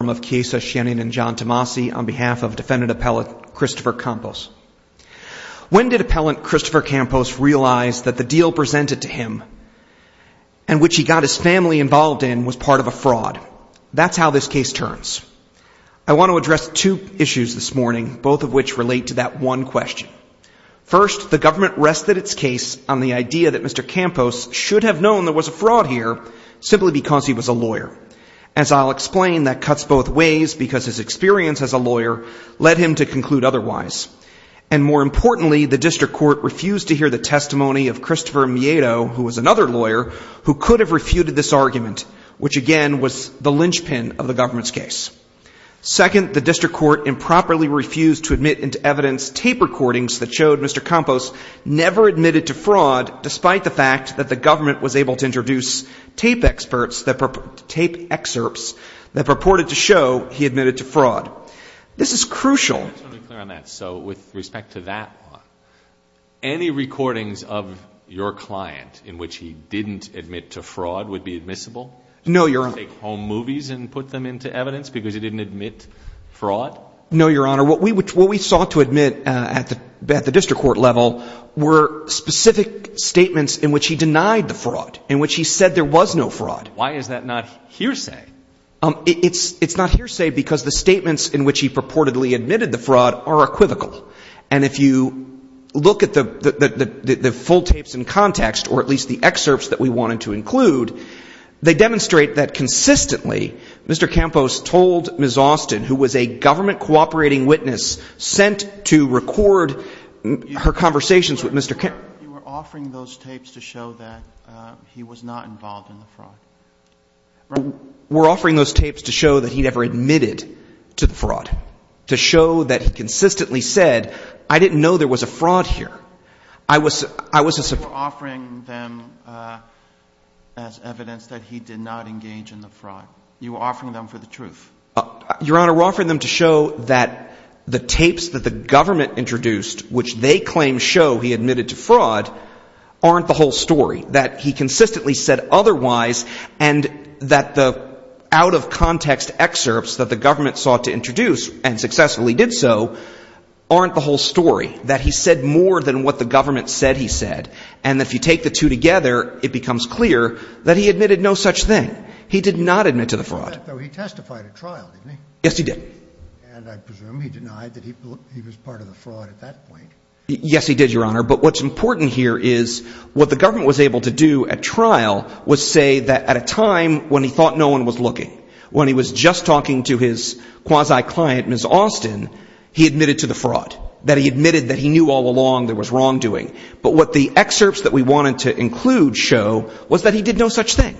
and John Tomasi on behalf of defendant appellant Christopher Campos. When did appellant Christopher Campos realize that the deal presented to him and which he got his family involved in was part of a fraud? That's how this case turns. I want to address two issues this morning, both of which relate to that one question. First, the government rested its case on the idea that Mr. Campos should have known there was a fraud here simply because he was a lawyer. As I'll explain, that cuts both ways because his experience as a lawyer led him to conclude otherwise. And more importantly, the district court refused to hear the testimony of Christopher Miedo, who was another lawyer, who could have refuted this argument, which again was the linchpin of the government's case. Second, the district court improperly refused to admit into evidence tape recordings that showed Mr. Campos never admitted to fraud, despite the fact that the government was able to introduce tape experts that – tape excerpts that purported to show he admitted to fraud. This is crucial. Let me be clear on that. So with respect to that one, any recordings of your client in which he didn't admit to fraud would be admissible? No, Your Honor. Did you take home movies and put them into evidence because he didn't admit fraud? No, Your Honor. What we sought to admit at the district court level were specific statements in which he denied the fraud, in which he said there was no fraud. Why is that not hearsay? It's not hearsay because the statements in which he purportedly admitted the fraud are equivocal. And if you look at the full tapes in context, or at least the excerpts that we wanted to include, they demonstrate that consistently Mr. Campos told Ms. Austin, who was a government cooperating witness sent to record her conversations with Mr. Campos – You were offering those tapes to show that he was not involved in the fraud, right? We're offering those tapes to show that he never admitted to the fraud, to show that he consistently said, I didn't know there was a fraud here. You were offering them as evidence that he did not engage in the fraud. You were offering them for the truth. Your Honor, we're offering them to show that the tapes that the government introduced, which they claim show he admitted to fraud, aren't the whole story. That he consistently said otherwise and that the out-of-context excerpts that the government sought to introduce and successfully did so aren't the whole story. That he said more than what the government said he said and that if you take the two together, it becomes clear that he admitted no such thing. He did not admit to the fraud. He testified at trial, didn't he? Yes, he did. And I presume he denied that he was part of the fraud at that point. Yes, he did, Your Honor, but what's important here is what the government was able to do at trial was say that at a time when he thought no one was looking, when he was just talking to his quasi-client, Ms. Austin, he admitted to the fraud. That he admitted that he knew all along there was wrongdoing. But what the excerpts that we wanted to include show was that he did no such thing.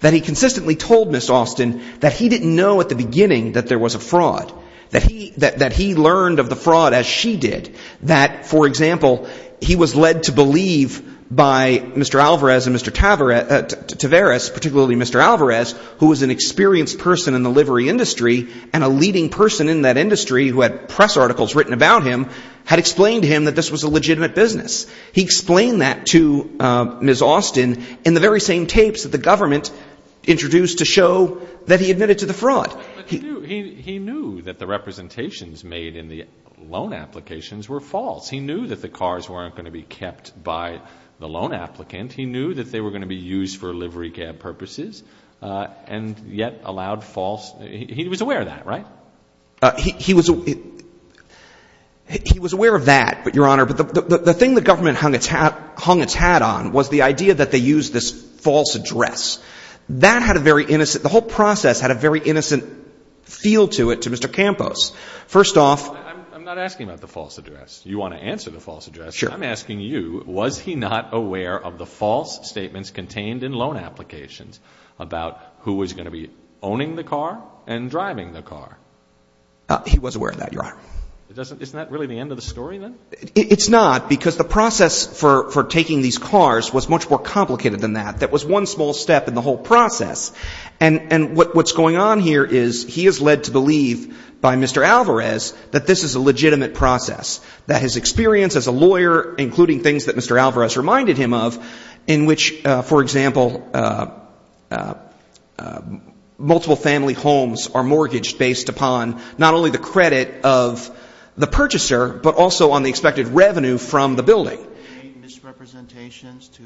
That he consistently told Ms. Austin that he didn't know at the beginning that there was a fraud. That he learned of the fraud as she did. That, for example, he was led to believe by Mr. Alvarez and Mr. Tavares, particularly Mr. Alvarez, who was an experienced person in the livery industry, and a leading person in that industry who had press articles written about him, had explained to him that this was a legitimate business. He explained that to Ms. Austin in the very same tapes that the government introduced to show that he admitted to the fraud. He knew that the representations made in the loan applications were false. He knew that the cars weren't going to be kept by the loan applicant. He knew that they were going to be used for livery cab purposes, and yet allowed false. He was aware of that, right? He was aware of that, Your Honor. But the thing the government hung its hat on was the idea that they used this false address. That had a very innocent, the whole process had a very innocent feel to it to Mr. Campos. First off. I'm not asking about the false address. You want to answer the false address. Sure. I'm asking you, was he not aware of the false statements contained in loan applications about who was going to be owning the car and driving the car? He was aware of that, Your Honor. Isn't that really the end of the story then? It's not, because the process for taking these cars was much more complicated than that. That was one small step in the whole process. And what's going on here is he is led to believe by Mr. Alvarez that this is a legitimate process. That his experience as a lawyer, including things that Mr. Alvarez reminded him of, in which, for example, multiple family homes are mortgaged based upon not only the credit of the purchaser, but also on the expected revenue from the building. Did he make misrepresentations to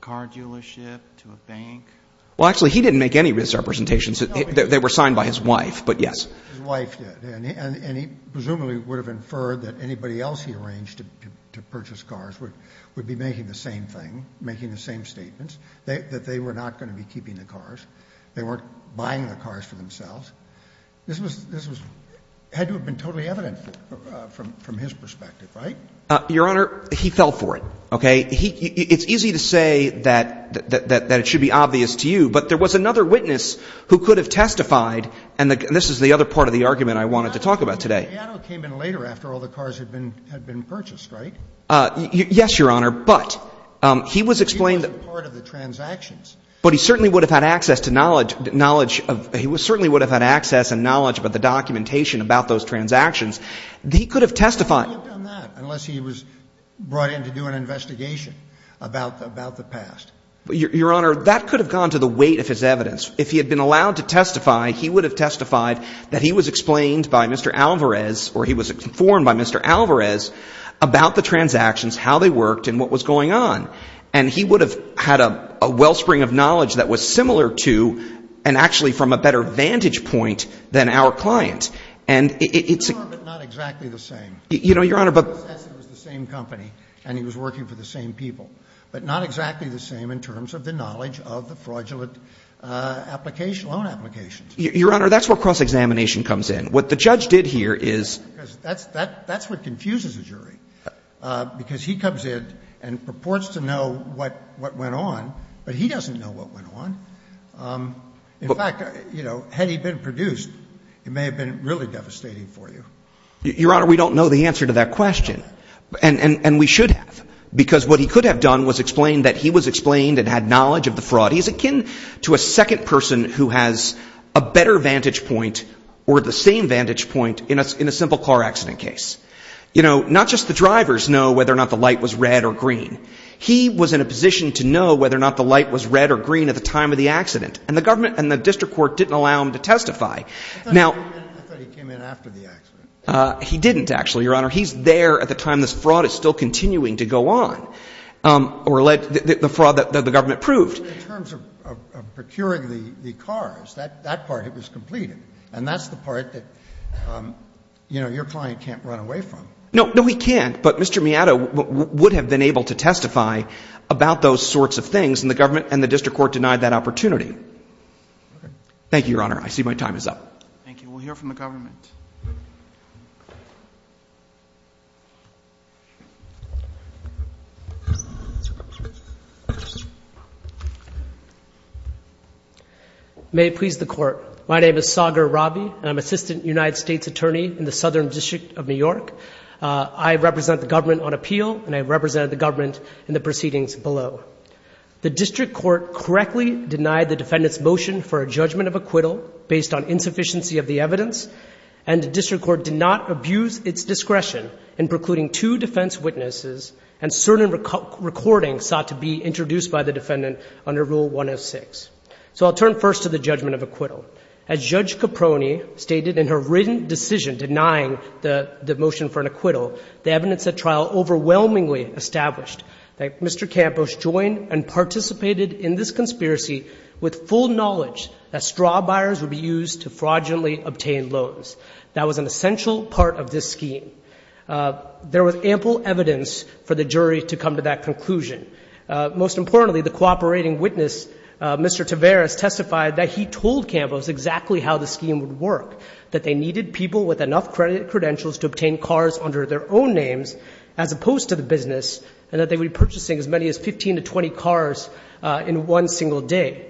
car dealership, to a bank? Well, actually, he didn't make any misrepresentations. They were signed by his wife, but yes. His wife did, and he presumably would have inferred that anybody else he arranged to purchase cars would be making the same thing, making the same statements, that they were not going to be keeping the cars. They weren't buying the cars for themselves. This had to have been totally evident from his perspective, right? Your Honor, he fell for it. Okay? It's easy to say that it should be obvious to you, but there was another witness who could have testified, and this is the other part of the argument I wanted to talk about today. Piano came in later after all the cars had been purchased, right? Yes, Your Honor, but he was explained that he certainly would have had access and knowledge about the documentation about those transactions. He could have testified. He wouldn't have done that unless he was brought in to do an investigation about the past. Your Honor, that could have gone to the weight of his evidence. If he had been allowed to testify, he would have testified that he was explained by Mr. Alvarez, or he was informed by Mr. Alvarez about the transactions, how they worked, and what was going on. And he would have had a wellspring of knowledge that was similar to and actually from a better vantage point than our client. And it's... It's similar, but not exactly the same. You know, Your Honor, but... He says it was the same company, and he was working for the same people, but not exactly the same in terms of the knowledge of the fraudulent application, loan applications. Your Honor, that's where cross-examination comes in. What the judge did here is... Because that's what confuses a jury, because he comes in and purports to know what went on, but he doesn't know what went on. In fact, you know, had he been produced, it may have been really devastating for you. Your Honor, we don't know the answer to that question, and we should have, because what he could have done was explain that he was explained and had knowledge of the fraud. He's akin to a second person who has a better vantage point or the same vantage point in a simple car accident case. You know, not just the drivers know whether or not the light was red or green. He was in a position to know whether or not the light was red or green at the time of the accident, and the government and the district court didn't allow him to testify. Now... I thought he came in after the accident. He didn't, actually, Your Honor. He's there at the time this fraud is still continuing to go on, or the fraud that the government proved. But in terms of procuring the cars, that part was completed, and that's the part that, you know, your client can't run away from. No, he can't, but Mr. Miata would have been able to testify about those sorts of things, and the government and the district court denied that opportunity. Thank you, Your Honor. I see my time is up. Thank you. We'll hear from the government. May it please the Court. My name is Sagar Ravi, and I'm Assistant United States Attorney in the Southern District of New York. I represent the government on appeal, and I represent the government in the proceedings below. The district court correctly denied the defendant's motion for a judgment of acquittal based on insufficiency of the evidence, and the district court did not abuse its discretion in precluding two defense witnesses and certain recordings sought to be introduced by the defendant under Rule 106. So I'll turn first to the judgment of acquittal. As Judge Caproni stated in her written decision denying the motion for an acquittal, the evidence at trial overwhelmingly established that Mr. Campos joined and participated in this conspiracy with full knowledge that straw buyers would be used to fraudulently obtain loans. That was an essential part of this scheme. There was ample evidence for the jury to come to that conclusion. Most importantly, the cooperating witness, Mr. Taveras, testified that he told Campos exactly how the scheme would work, that they needed people with enough credit credentials to obtain cars under their own names as opposed to the business, and that they would be purchasing as many as 15 to 20 cars in one single day.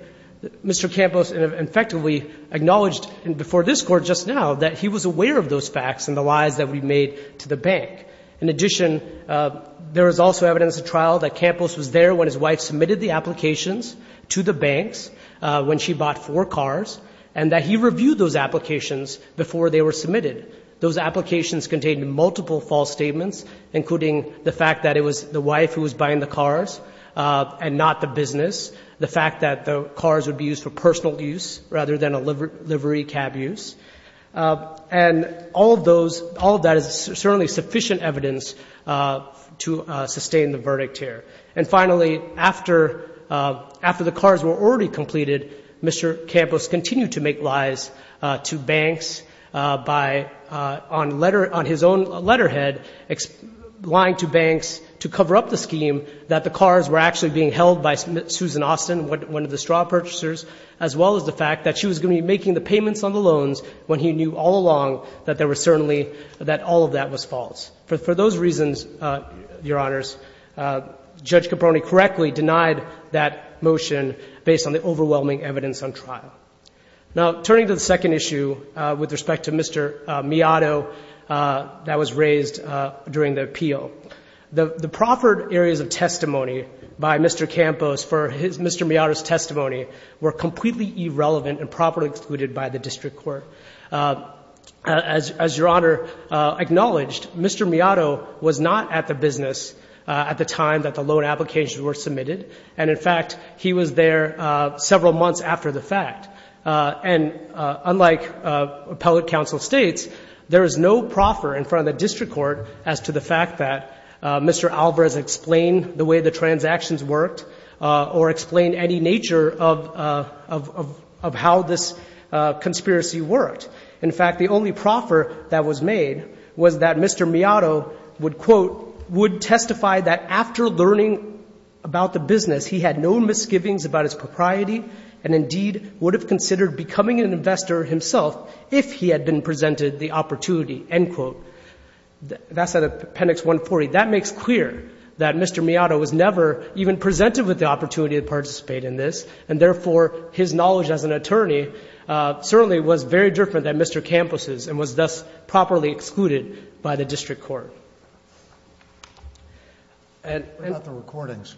Mr. Campos effectively acknowledged before this Court just now that he was aware of those facts and the lies that we made to the bank. In addition, there was also evidence at trial that Campos was there when his wife submitted the applications to the banks, when she bought four cars, and that he reviewed those applications before they were submitted. Those applications contained multiple false statements, including the fact that it was the wife who was buying the cars and not the business, the fact that the cars would be used for personal use rather than a livery cab use. And all of that is certainly sufficient evidence to sustain the verdict here. And finally, after the cars were already completed, Mr. Campos continued to make lies to banks on his own letterhead, lying to banks to cover up the scheme that the cars were actually being held by Susan Austin, one of the straw purchasers, as well as the fact that she was going to be making the payments on the loans when he knew all along that all of that was false. For those reasons, Your Honors, Judge Caproni correctly denied that motion based on the overwhelming evidence on trial. Now, turning to the second issue with respect to Mr. Miado that was raised during the appeal, the proffered areas of testimony by Mr. Campos for Mr. Miado's testimony were completely irrelevant and properly excluded by the district court. As Your Honor acknowledged, Mr. Miado was not at the business at the time that the loan applications were submitted, and, in fact, he was there several months after the fact. And unlike appellate counsel states, there is no proffer in front of the district court as to the fact that Mr. Alvarez explained the way the transactions worked or explained any nature of how this conspiracy worked. In fact, the only proffer that was made was that Mr. Miado would, quote, would testify that after learning about the business, he had no misgivings about his propriety and, indeed, would have considered becoming an investor himself if he had been presented the opportunity, end quote. That's out of Appendix 140. That makes clear that Mr. Miado was never even presented with the opportunity to participate in this, and, therefore, his knowledge as an attorney certainly was very different than Mr. Campos' and was thus properly excluded by the district court. What about the recordings?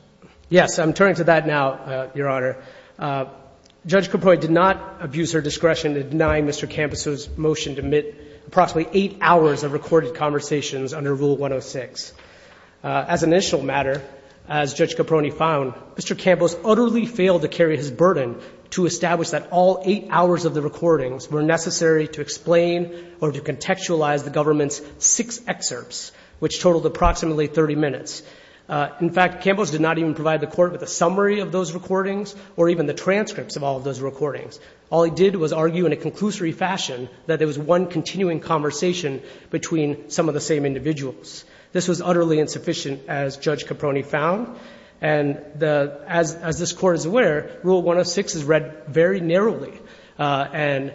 Yes, I'm turning to that now, Your Honor. Judge Caprone did not abuse her discretion in denying Mr. Campos' motion to omit approximately eight hours of recorded conversations under Rule 106. As an initial matter, as Judge Caprone found, Mr. Campos utterly failed to carry his burden to establish that all eight hours of the recordings were necessary to explain or to contextualize the government's six excerpts, which totaled approximately 30 minutes. In fact, Campos did not even provide the court with a summary of those recordings or even the transcripts of all of those recordings. All he did was argue in a conclusory fashion that there was one continuing conversation between some of the same individuals. This was utterly insufficient, as Judge Caprone found. And the — as this Court is aware, Rule 106 is read very narrowly, and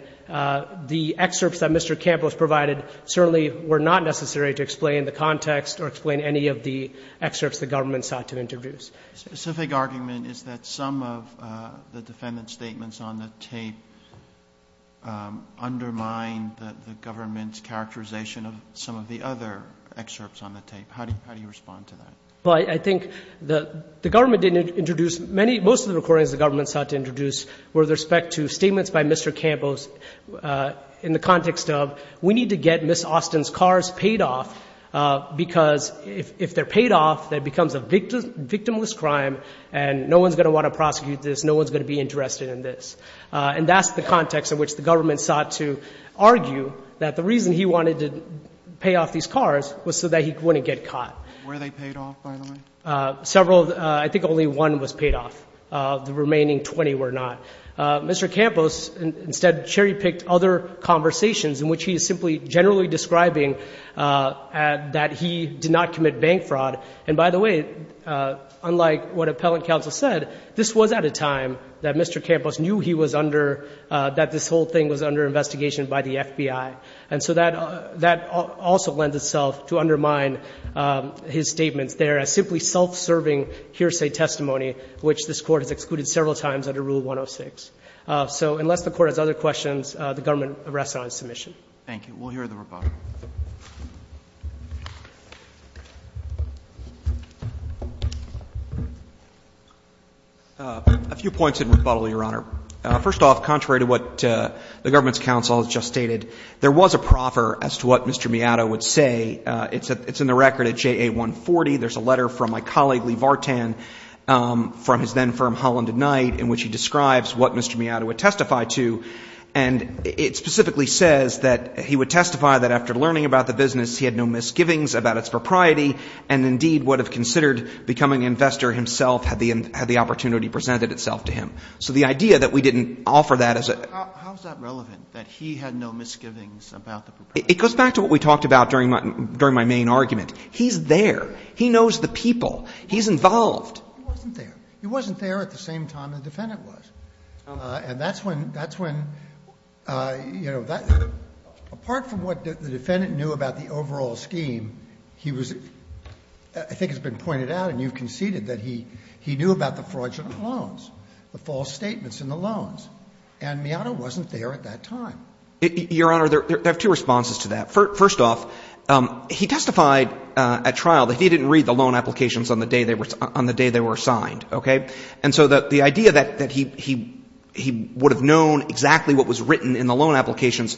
the excerpts that Mr. Campos provided certainly were not necessary to explain the context or explain any of the excerpts the government sought to introduce. The specific argument is that some of the defendant's statements on the tape undermine the government's characterization of some of the other excerpts on the tape. How do you respond to that? Well, I think the government didn't introduce many — most of the recordings the government sought to introduce were with respect to statements by Mr. Campos in the context of, we need to get Ms. Austin's cars paid off, because if they're paid off, that becomes a victimless crime, and no one's going to want to prosecute this, no one's going to be interested in this. And that's the context in which the government sought to argue that the reason he wanted to pay off these cars was so that he wouldn't get caught. Were they paid off, by the way? Several — I think only one was paid off. The remaining 20 were not. Mr. Campos instead cherry-picked other conversations in which he is simply generally describing that he did not commit bank fraud. And by the way, unlike what Appellant Counsel said, this was at a time that Mr. Campos knew he was under — that this whole thing was under investigation by the FBI. And so that — that also lends itself to undermine his statements there as simply self-serving hearsay testimony, which this Court has excluded several times under Rule 106. So unless the Court has other questions, the government rests on submission. Thank you. We'll hear the rebuttal. A few points in rebuttal, Your Honor. First off, contrary to what the government's counsel has just stated, there was a proffer as to what Mr. Miata would say. It's in the record at JA 140. There's a letter from my colleague Lee Vartan from his then firm Holland & Knight in which he describes what Mr. Miata would testify to. How is that relevant, that he had no misgivings about the proprietor? It goes back to what we talked about during my main argument. He's there. He knows the people. He's involved. He wasn't there. He wasn't there at the same time the defendant was. And that's when, you know, apart from what the defendant knew about the overall scheme, he was, I think it's been pointed out and you've conceded that he knew about the fraudulent loans, the false statements in the loans. And Miata wasn't there at that time. Your Honor, there are two responses to that. First off, he testified at trial that he didn't read the loan applications on the day they were signed. Okay? And so the idea that he would have known exactly what was written in the loan applications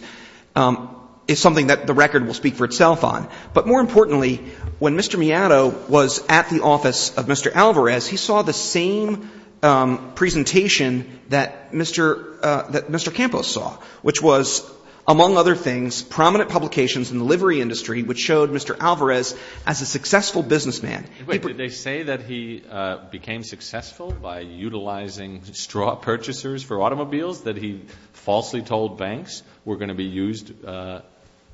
is something that the record will speak for itself on. But more importantly, when Mr. Miata was at the office of Mr. Alvarez, he saw the same presentation that Mr. Campos saw, which was, among other things, prominent publications in the livery industry which showed Mr. Alvarez as a successful businessman. Wait. Did they say that he became successful by utilizing straw purchasers for automobiles, that he falsely told banks were going to be used under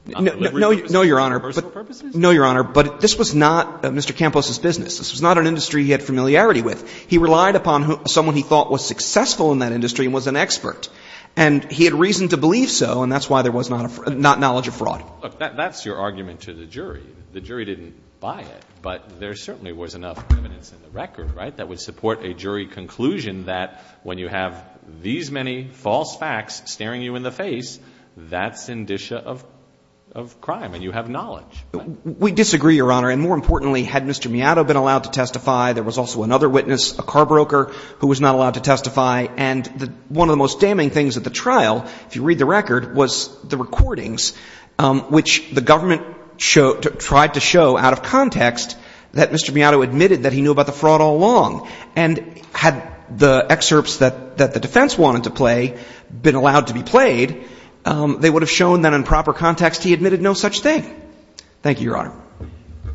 livery purposes? No, Your Honor. For personal purposes? No, Your Honor. But this was not Mr. Campos' business. This was not an industry he had familiarity with. He relied upon someone he thought was successful in that industry and was an expert. And he had reason to believe so, and that's why there was not knowledge of fraud. Look, that's your argument to the jury. The jury didn't buy it, but there certainly was enough evidence in the record, right, that would support a jury conclusion that when you have these many false facts staring you in the face, that's indicia of crime and you have knowledge. We disagree, Your Honor. And more importantly, had Mr. Miata been allowed to testify, there was also another witness, a car broker, who was not allowed to testify. And one of the most damning things at the trial, if you read the record, was the context that Mr. Miata admitted that he knew about the fraud all along. And had the excerpts that the defense wanted to play been allowed to be played, they would have shown that in proper context he admitted no such thing. Thank you, Your Honor.